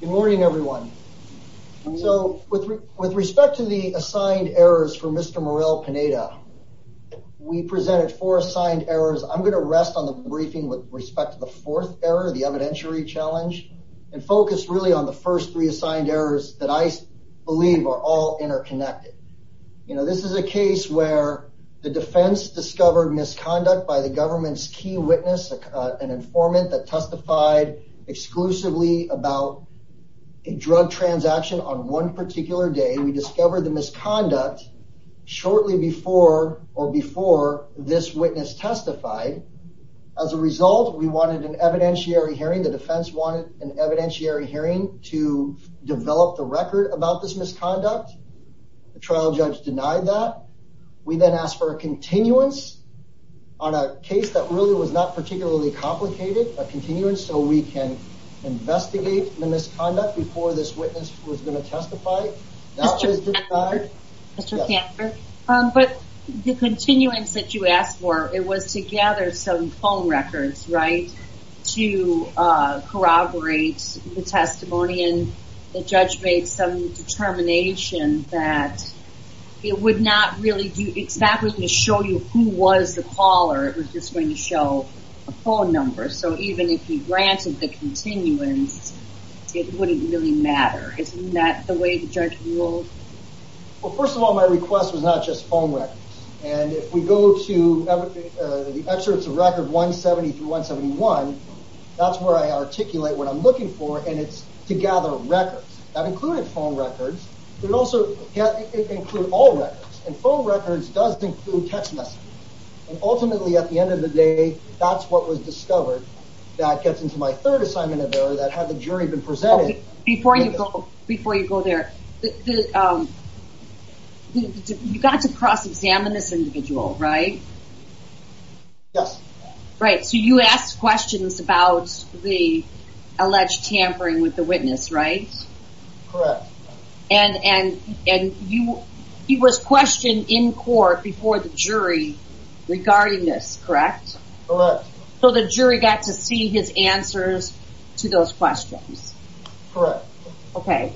Good morning, everyone. So with respect to the assigned errors for Mr. Morel-Pineda, we presented four assigned errors. I'm going to rest on the briefing with respect to the fourth error, the evidentiary challenge, and focus really on the first three assigned errors that I believe are all interconnected. You know, this is a case where the defense discovered misconduct by the government's key witness, an informant that testified exclusively about a drug transaction on one particular day. We discovered the misconduct shortly before or before this witness testified. As a result, we wanted an evidentiary hearing. The defense wanted an evidentiary hearing to develop the record about this misconduct. The trial judge denied that. We then asked for a continuance on a case that really was not particularly complicated, a continuance so we can investigate the misconduct before this witness was going to testify. But the continuance that you asked for, it was to gather some phone records, right, to corroborate the testimony. And the judge made some determination that it would not really do, it's not going to show you who was the caller. It was just going to show a phone number. So even if he granted the continuance, it wouldn't really matter. Isn't that the way the judge ruled? Well, first of all, my request was not just phone records. And if we go to the excerpts of record 170 through 171, that's where I articulate what I'm looking for, and it's to gather records. That included phone records, but it also include all records. And phone records does include text messages. And ultimately, at the end of the day, that's what was discovered. That gets into my third assignment of error that had the jury been presented. Before you go there, you got to cross-examine this individual, right? Yes. Right. So you asked questions about the alleged tampering with the witness, right? Correct. And he was questioned in court before the jury regarding this, correct? Correct. So the jury got to see his answers to those questions? Correct. Okay.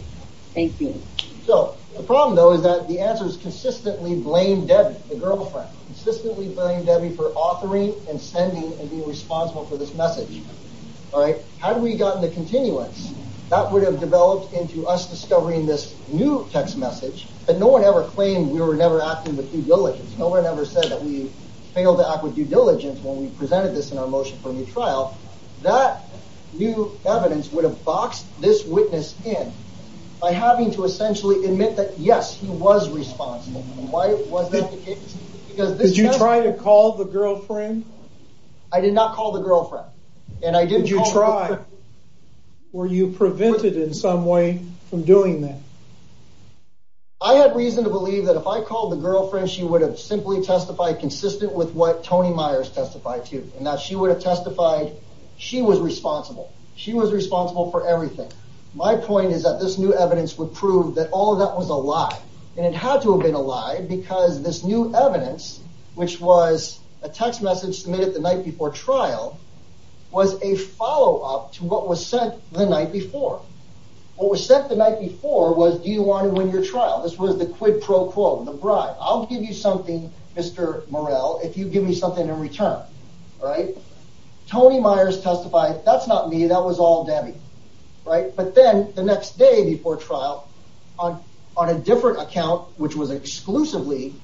Thank you. So the problem though is that the answers consistently blamed Debbie, the girlfriend, consistently blamed Debbie for authoring and sending and being responsible for this message, all right? Had we gotten the continuance, that would have developed into us discovering this new text message, but no one ever claimed we were never acting with due diligence. No one ever said that we failed to act with due diligence when we presented this in our motion for a new trial. That new evidence would have boxed this witness in by having to essentially admit that, yes, he was responsible. Why was that the case? Did you try to call the girlfriend? I did not call the girlfriend and I didn't try. Were you prevented in some way from doing that? I had reason to believe that if I called the girlfriend, she would have simply testified consistent with what Tony Myers testified to and that she would have testified she was responsible. She was responsible for everything. My point is that this new evidence would prove that all of that was a lie and it had to have been a lie because this new evidence, which was a text message submitted the night before trial, was a follow-up to what was sent the night before. What was sent the night before was, do you want to win your trial? This was the quid pro quo, the bribe. I'll give you something, Mr. Morrell, if you give me something in return, all right? Tony Myers testified, that's not me, that was all Debbie, right? But then the next day before trial on a different account, which was exclusively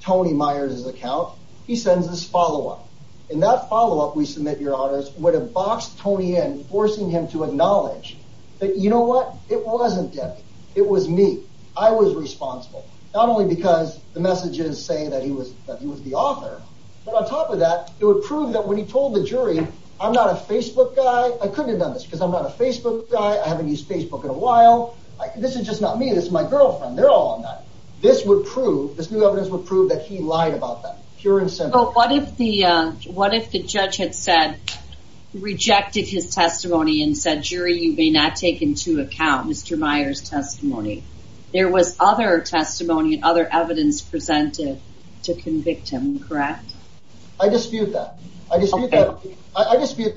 Tony Myers' account, he sends this follow-up. In that follow-up, we submit your honors, would have boxed Tony in, forcing him to acknowledge that, you know what? It wasn't Debbie. It was me. I was responsible. Not only because the messages say that he was the author, but on top of that, it would prove that when he told the jury, I'm not a Facebook guy. I couldn't have done this because I'm not a Facebook guy. I haven't my girlfriend. They're all on that. This new evidence would prove that he lied about that, pure and simple. What if the judge had said, rejected his testimony and said, jury, you may not take into account Mr. Myers' testimony? There was other testimony and other evidence presented to convict him, correct? I dispute that. I dispute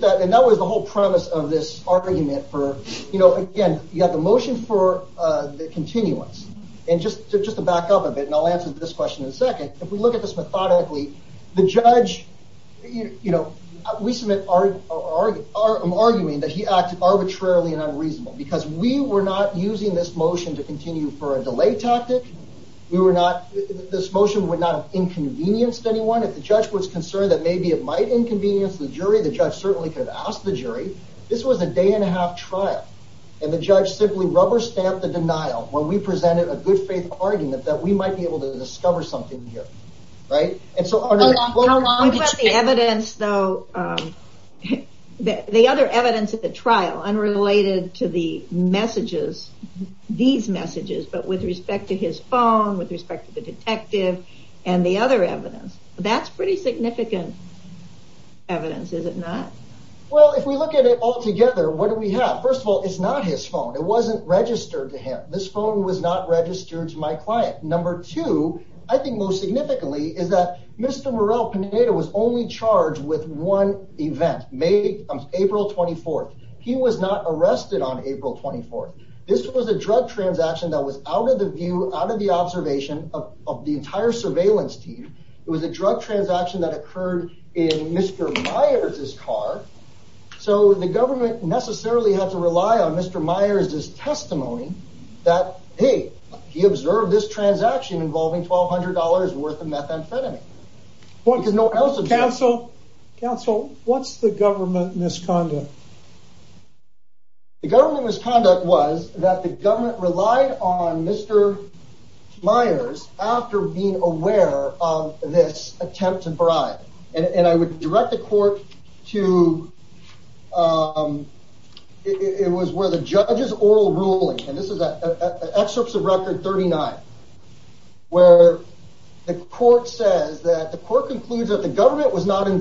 that. And that was the whole premise of this argument for, you know, again, you got the motion for the continuance. And just to back up a bit, and I'll answer this question in a second. If we look at this methodically, the judge, you know, we submit, I'm arguing that he acted arbitrarily and unreasonable because we were not using this motion to continue for a delay tactic. We were not, this motion would not have inconvenienced anyone. If the judge was concerned that maybe it might inconvenience the jury, the judge certainly could have asked the jury. This was a day and a half trial. And the judge simply rubber stamped the denial when we presented a good faith argument that we might be able to discover something here. Right. And so the evidence though, the other evidence at the trial unrelated to the messages, these messages, but with respect to his phone, with respect to the detective and the other evidence, that's pretty significant evidence, is it not? Well, if we look at it all together, what do we have? First of all, it's not his phone. It wasn't registered to him. This phone was not registered to my client. Number two, I think most significantly is that Mr. Morel Panetta was only charged with one event, April 24th. He was not arrested on April 24th. This was a drug transaction that was out of the view, out of the observation of the entire surveillance team. It was a drug transaction that occurred in Mr. Myers' car. So the government necessarily had to rely on Mr. Myers' testimony that, hey, he observed this transaction involving $1,200 worth of methamphetamine. Counsel, what's the government misconduct? The government misconduct was that the government relied on Mr. Myers after being aware of this attempt to bribe. And I would direct the court to, it was where the judge's oral ruling, and this is excerpts of record 39, where the court says that the court concludes that the government was not even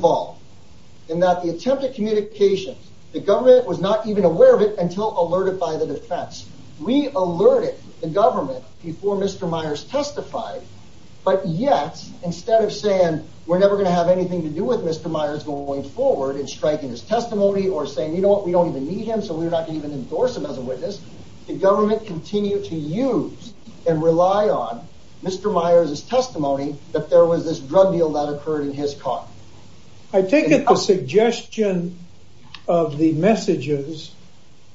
aware of it until alerted by the defense. We alerted the government before Mr. Myers testified. But yet, instead of saying, we're never going to have anything to do with Mr. Myers going forward and striking his testimony or saying, you know what, we don't even need him. So we're not going to even endorse him as a witness. The government continued to use and rely on Mr. Myers' testimony that there was this drug deal that occurred in his car. I take it the suggestion of the messages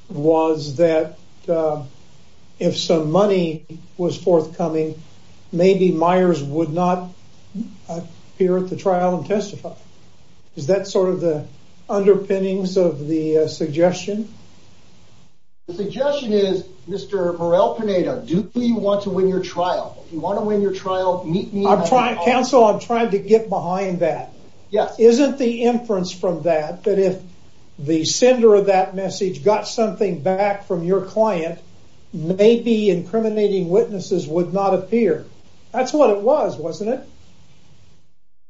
was that if some money was forthcoming, maybe Myers would not appear at the trial and testify. Is that sort of the underpinnings of the suggestion? The suggestion is, Mr. Morel-Pineda, do you want to win your trial? If you want to get behind that, isn't the inference from that that if the sender of that message got something back from your client, maybe incriminating witnesses would not appear? That's what it was, wasn't it?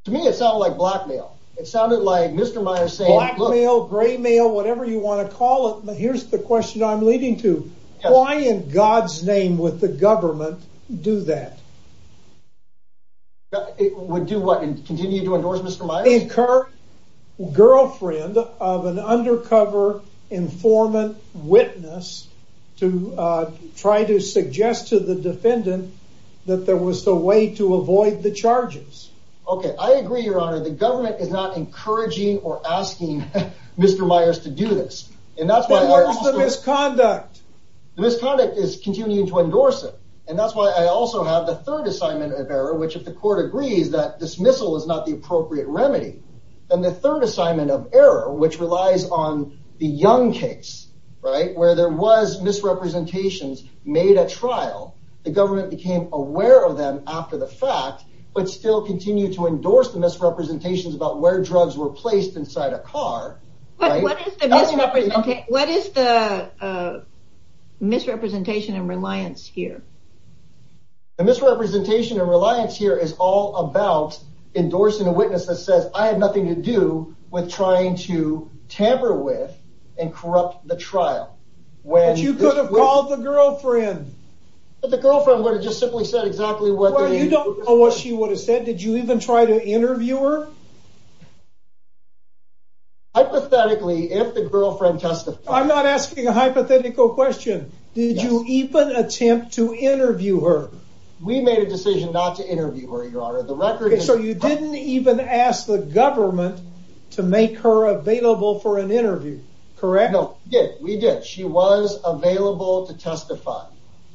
To me, it sounded like blackmail. It sounded like Mr. Myers saying, blackmail, graymail, whatever you want to call it. But here's the question I'm leading to. Why in God's name would the government do that? It would do what and continue to endorse Mr. Myers? Incur girlfriend of an undercover informant witness to try to suggest to the defendant that there was a way to avoid the charges. Okay, I agree, your honor. The government is not encouraging or asking Mr. Myers to do this. And that's why there was the misconduct. The misconduct is continuing to endorse it. And that's why I also have the third assignment of error, which if the court agrees that dismissal is not the appropriate remedy, then the third assignment of error, which relies on the young case, right, where there was misrepresentations made at trial, the government became aware of them after the fact, but still continue to endorse the misrepresentations about where drugs were placed inside a car. What is the misrepresentation and reliance here? The misrepresentation and reliance here is all about endorsing a witness that says, I have nothing to do with trying to tamper with and corrupt the trial. When you could have called the girlfriend, the girlfriend would have just simply said exactly what she would have said. Did you even try to interview her? Hypothetically, if the girlfriend testifies. I'm not asking a hypothetical question. Did you even attempt to interview her? We made a decision not to interview her, your honor. The record. So you didn't even ask the government to make her available for an interview, correct? No, we did. She was available to testify.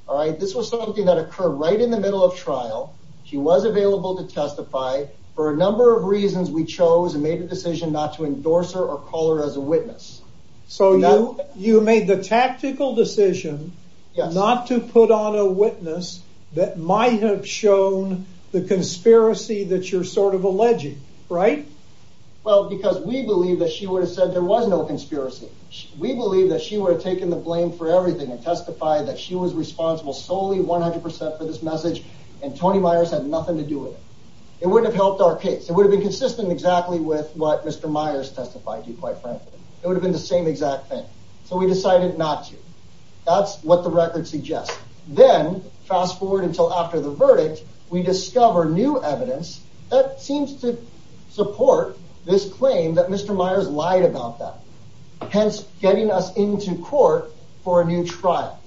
All right. This was something that occurred right in the middle of trial. She was available to testify for a number of reasons, we chose and made a decision not to endorse her or call her as a witness. So you, you made the tactical decision not to put on a witness that might have shown the conspiracy that you're sort of alleging, right? Well, because we believe that she would have said there was no conspiracy. We believe that she would have taken the blame for everything and testified that she was responsible solely 100% for this message. And Tony Myers had nothing to do with it. It wouldn't have helped our case. It would have been consistent exactly with what Mr. Myers testified to quite frankly, it would have been the same exact thing. So we decided not to. That's what the record suggests. Then fast forward until after the verdict, we discover new evidence that seems to support this claim that Mr. Myers lied about that, hence getting us into court for a new trial.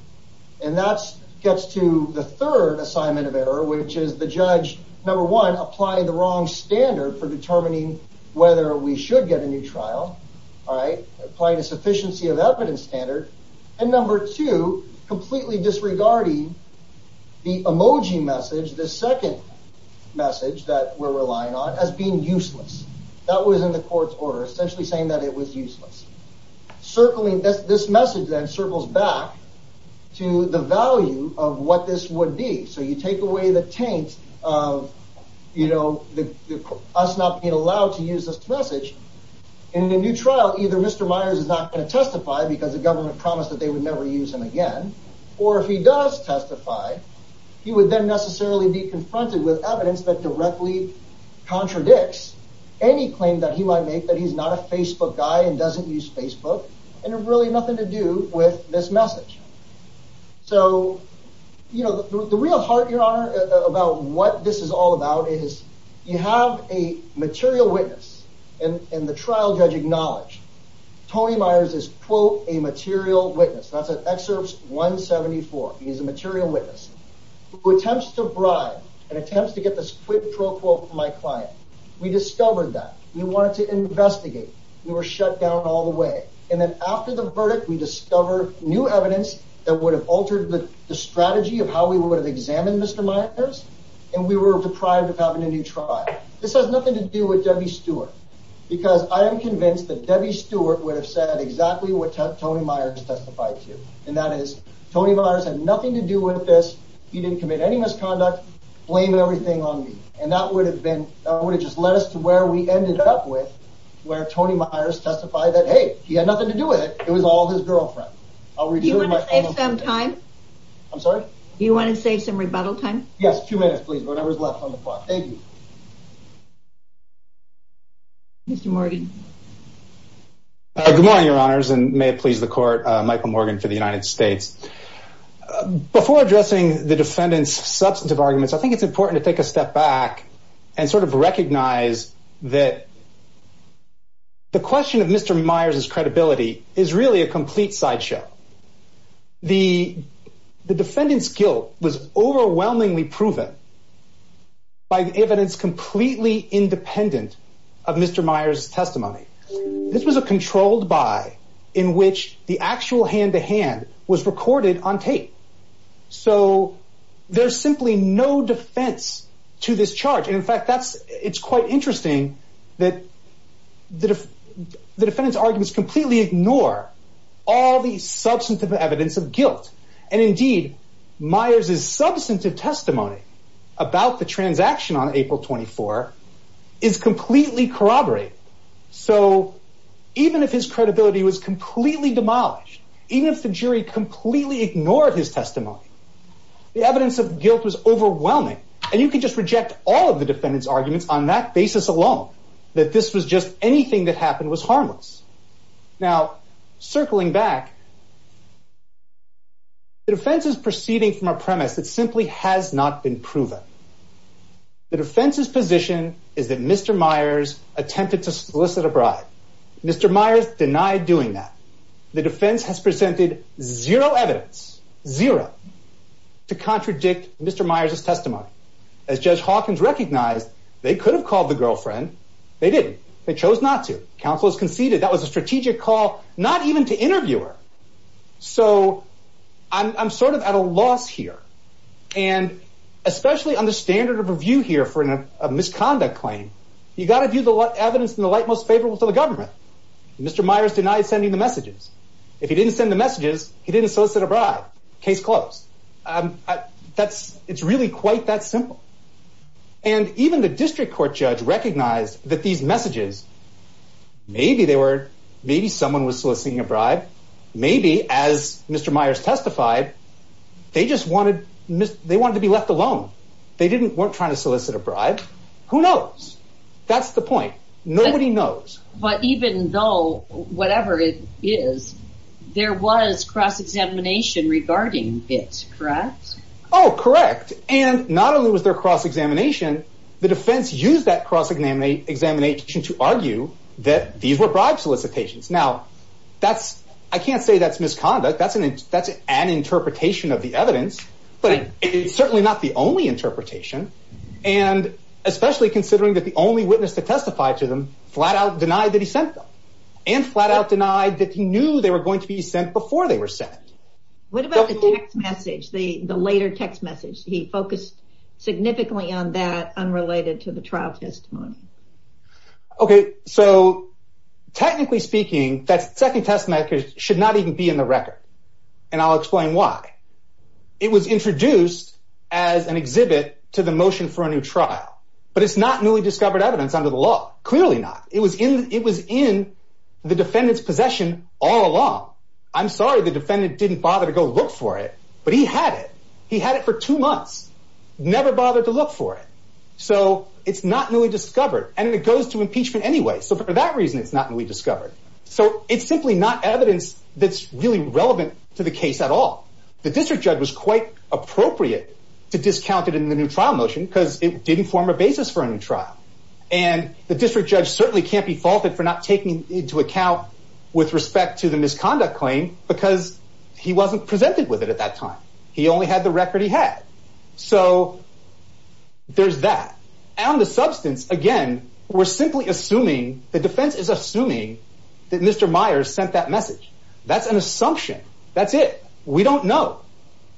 And that's gets to the third assignment of error, which is the judge, number one, applying the wrong standard for determining whether we should get a new trial. All right. Applying a sufficiency of evidence standard. And number two, completely disregarding the emoji message, the second message that we're relying on as being useless. That was in the court's order, essentially saying that it was useless. Circling this, this message then circles back to the value of what this would be. So you take away the taint of, you know, us not being allowed to use this message in a new trial. Either Mr. Myers is not going to testify because the government promised that they would never use him again. Or if he does testify, he would then necessarily be confronted with evidence that directly contradicts any claim that he might make that he's not a Facebook guy and doesn't use Facebook and really nothing to do with this message. So, you know, the real heart, your honor, about what this is all about is you have a material witness and the trial judge acknowledged Tony Myers is quote, a material witness. That's at excerpts 174. He is a material witness who attempts to bribe and attempts to get this client. We discovered that we wanted to investigate. We were shut down all the way. And then after the verdict, we discover new evidence that would have altered the strategy of how we would have examined Mr. Myers. And we were deprived of having a new trial. This has nothing to do with Debbie Stewart because I am convinced that Debbie Stewart would have said exactly what Tony Myers testified to. And that is Tony Myers had nothing to do with this. He didn't commit any misconduct, blame everything on me. And that would have been, that would have just led us to where we ended up with where Tony Myers testified that, hey, he had nothing to do with it. It was all his girlfriend. Do you want to save some time? I'm sorry? Do you want to save some rebuttal time? Yes. Two minutes, please. Whatever's left on the clock. Thank you. Mr. Morgan. Good morning, your honors, and may it please the court, Michael Morgan for the United States. Before addressing the defendant's substantive arguments, I think it's important to take a step back and sort of recognize that the question of Mr. Myers' credibility is really a complete sideshow. The defendant's guilt was overwhelmingly proven by the evidence completely independent of Mr. Myers' testimony. This was a controlled buy in which the actual hand-to-hand was recorded on tape. So there's simply no defense to this charge. And in fact, that's, it's quite interesting that the defendant's arguments completely ignore all the substantive evidence of guilt. And indeed Myers' substantive testimony about the transaction on April 24 is completely corroborated. So even if his credibility was completely demolished, even if the jury completely ignored his testimony, the evidence of guilt was overwhelming. And you could just reject all of the defendant's arguments on that basis alone, that this was just anything that happened was harmless. Now, circling back, the defense is proceeding from a premise that simply has not been proven. The defense's position is that Mr. Myers attempted to solicit a bribe. Mr. Myers denied doing that. The defense has presented zero evidence, zero, to contradict Mr. Myers' testimony. As Judge Hawkins recognized, they could have called the girlfriend. They didn't. They chose not to. Counsel has conceded that was a strategic call, not even to interview her. So I'm sort of at a loss here. And especially on the standard of review here for a misconduct claim, you got to do the evidence in the light most favorable to the government. Mr. Myers denied sending the messages. If he didn't send the messages, he didn't solicit a bribe. Case closed. It's really quite that simple. And even the Maybe someone was soliciting a bribe. Maybe, as Mr. Myers testified, they just wanted to be left alone. They weren't trying to solicit a bribe. Who knows? That's the point. Nobody knows. But even though, whatever it is, there was cross-examination regarding it, correct? Oh, correct. And not only was there cross-examination, the defense used that cross-examination to argue that these were bribe solicitations. Now, I can't say that's misconduct. That's an interpretation of the evidence, but it's certainly not the only interpretation. And especially considering that the only witness to testify to them flat out denied that he sent them, and flat out denied that he knew they were going to be sent before they were sent. What about the text message, the later text message? He focused significantly on that, related to the trial testimony. Okay, so technically speaking, that second testimony should not even be in the record. And I'll explain why. It was introduced as an exhibit to the motion for a new trial. But it's not newly discovered evidence under the law. Clearly not. It was in the defendant's possession all along. I'm sorry the defendant didn't bother to go look for it, but he had it. He had it for two months, never bothered to look for it. So it's not newly discovered. And it goes to impeachment anyway. So for that reason, it's not newly discovered. So it's simply not evidence that's really relevant to the case at all. The district judge was quite appropriate to discount it in the new trial motion because it didn't form a basis for a new trial. And the district judge certainly can't be faulted for not taking into account with respect to the time. He only had the record he had. So there's that. And on the substance, again, we're simply assuming, the defense is assuming that Mr. Myers sent that message. That's an assumption. That's it. We don't know.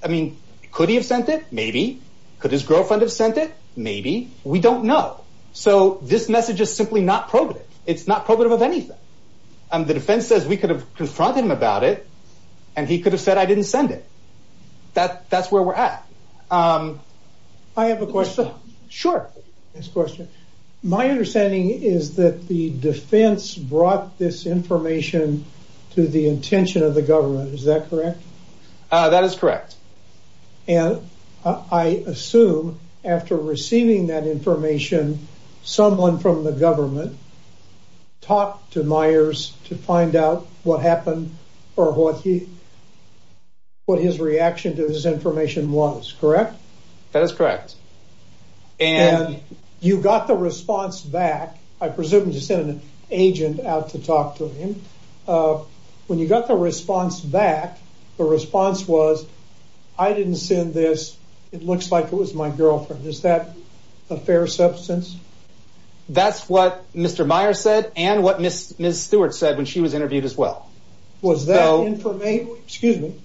I mean, could he have sent it? Maybe. Could his girlfriend have sent it? Maybe. We don't know. So this message is simply not probative. It's not probative of anything. The defense says we could have confronted him about it, and he could have said I didn't send it. That's where we're at. I have a question. Sure. My understanding is that the defense brought this information to the intention of the government. Is that correct? That is correct. And I assume after receiving that information, someone from the government talked to Myers to find out what happened or what his reaction to this information was, correct? That is correct. And you got the response back. I presume you sent an agent out to talk to him. When you got the response back, the response was, I didn't send this. It looks like it was my girlfriend. Is that a fair substance? That's what Mr. Myers said and what Ms. Stewart said when she was interviewed as well. Was that information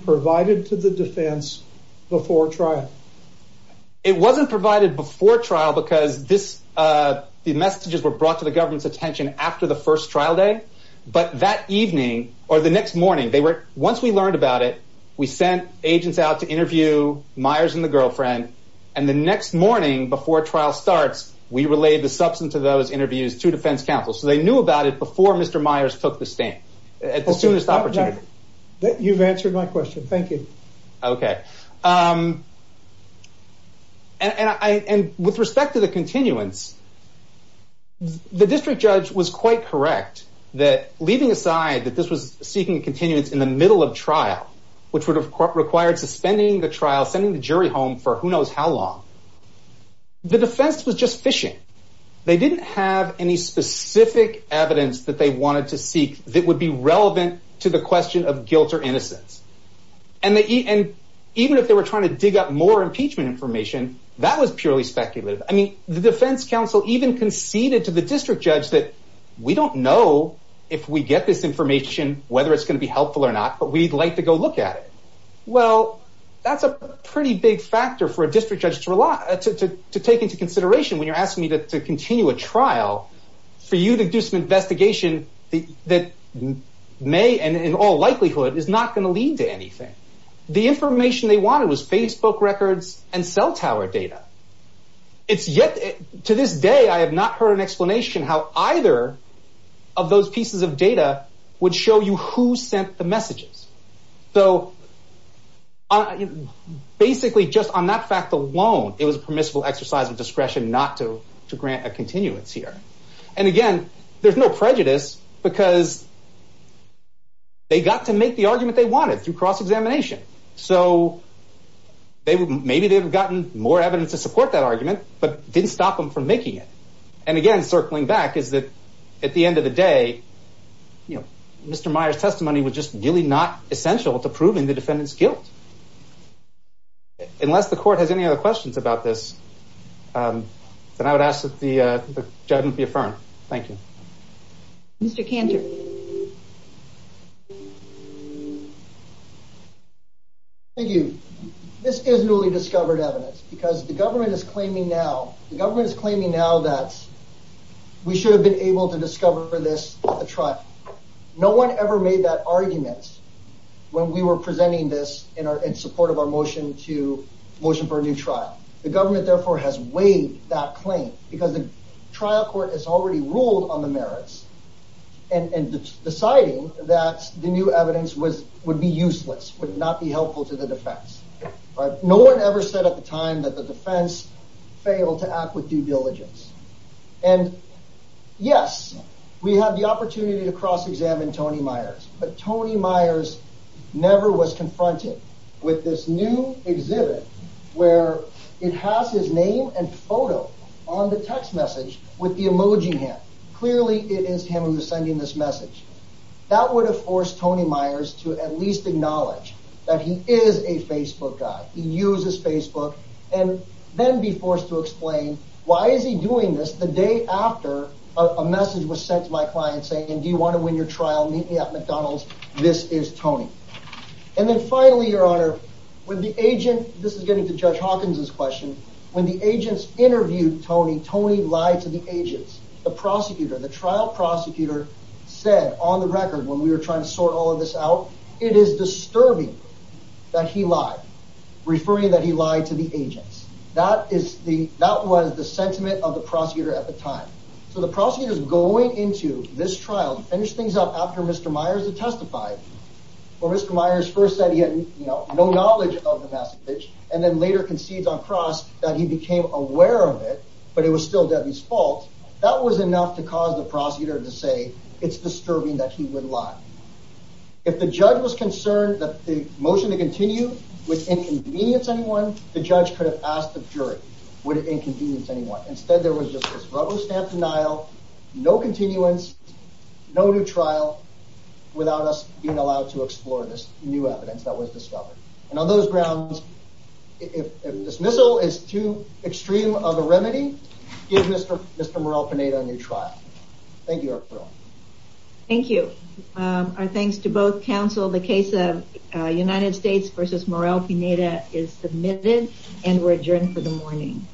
provided to the defense before trial? It wasn't provided before trial because the messages were brought to the government's attention after the first trial day. But that evening or the next morning, once we learned and the next morning before trial starts, we relayed the substance of those interviews to defense counsel. So they knew about it before Mr. Myers took the stand at the soonest opportunity. You've answered my question. Thank you. Okay. And with respect to the continuance, the district judge was quite correct that leaving aside that this was seeking continuance in the home for who knows how long, the defense was just fishing. They didn't have any specific evidence that they wanted to seek that would be relevant to the question of guilt or innocence. Even if they were trying to dig up more impeachment information, that was purely speculative. I mean, the defense counsel even conceded to the district judge that we don't know if we get this information whether it's going to be helpful or not, but we'd like to go look at it. Well, that's a pretty big factor for a district judge to take into consideration when you're asking me to continue a trial for you to do some investigation that may and in all likelihood is not going to lead to anything. The information they wanted was Facebook records and cell tower data. It's yet to this day, I have not heard an explanation how either of those pieces of data would show you who sent the messages. So basically just on that fact alone, it was a permissible exercise of discretion not to grant a continuance here. And again, there's no prejudice because they got to make the argument they wanted through cross-examination. So maybe they've gotten more evidence to support that argument, but didn't stop them from making it. And again, circling back is that at the end of the day, Mr. Meyer's testimony was just really not essential to proving the defendant's guilt. Unless the court has any other questions about this, then I would ask that the judgment be affirmed. Thank you. Mr. Cantor. Thank you. This is newly discovered evidence because the government is claiming now, the government is claiming now that we should have been able to discover this at the trial. No one ever made that argument when we were presenting this in support of our motion to motion for a new trial. The government therefore has waived that claim because the trial court has already ruled on the merits and deciding that the new evidence would be useless, would not be helpful to the defense, failed to act with due diligence. And yes, we have the opportunity to cross-examine Tony Myers, but Tony Myers never was confronted with this new exhibit where it has his name and photo on the text message with the emoji hand. Clearly it is him who is sending this message. That would have forced Tony Myers to at least acknowledge that he is a Facebook guy. He uses Facebook and then be forced to explain why is he doing this the day after a message was sent to my client saying, do you want to win your trial? Meet me at McDonald's. This is Tony. And then finally, your honor, when the agent, this is getting to judge Hawkins's question, when the agents interviewed Tony, Tony lied to the agents, the prosecutor, the trial prosecutor said on the record, when we were trying to sort all of this out, it is disturbing that he lied, referring that he lied to the agents. That is the, that was the sentiment of the prosecutor at the time. So the prosecutor is going into this trial to finish things up after Mr. Myers had testified or Mr. Myers first said he had no knowledge of the message and then later concedes on cross that he became aware of it, but it was still Debbie's fault. That was enough to cause the prosecutor to say it's disturbing that he would lie. If the judge was concerned that the to continue with inconvenience, anyone, the judge could have asked the jury, would it inconvenience anyone? Instead, there was just this rubber stamp denial, no continuance, no new trial without us being allowed to explore this new evidence that was discovered. And on those grounds, if dismissal is too extreme of a remedy, give Mr. Mr. Morrell-Pineda a new trial. Thank you. Thank you. Our thanks to both counsel. The case of United States versus Morrell-Pineda is submitted and we're adjourned for the morning.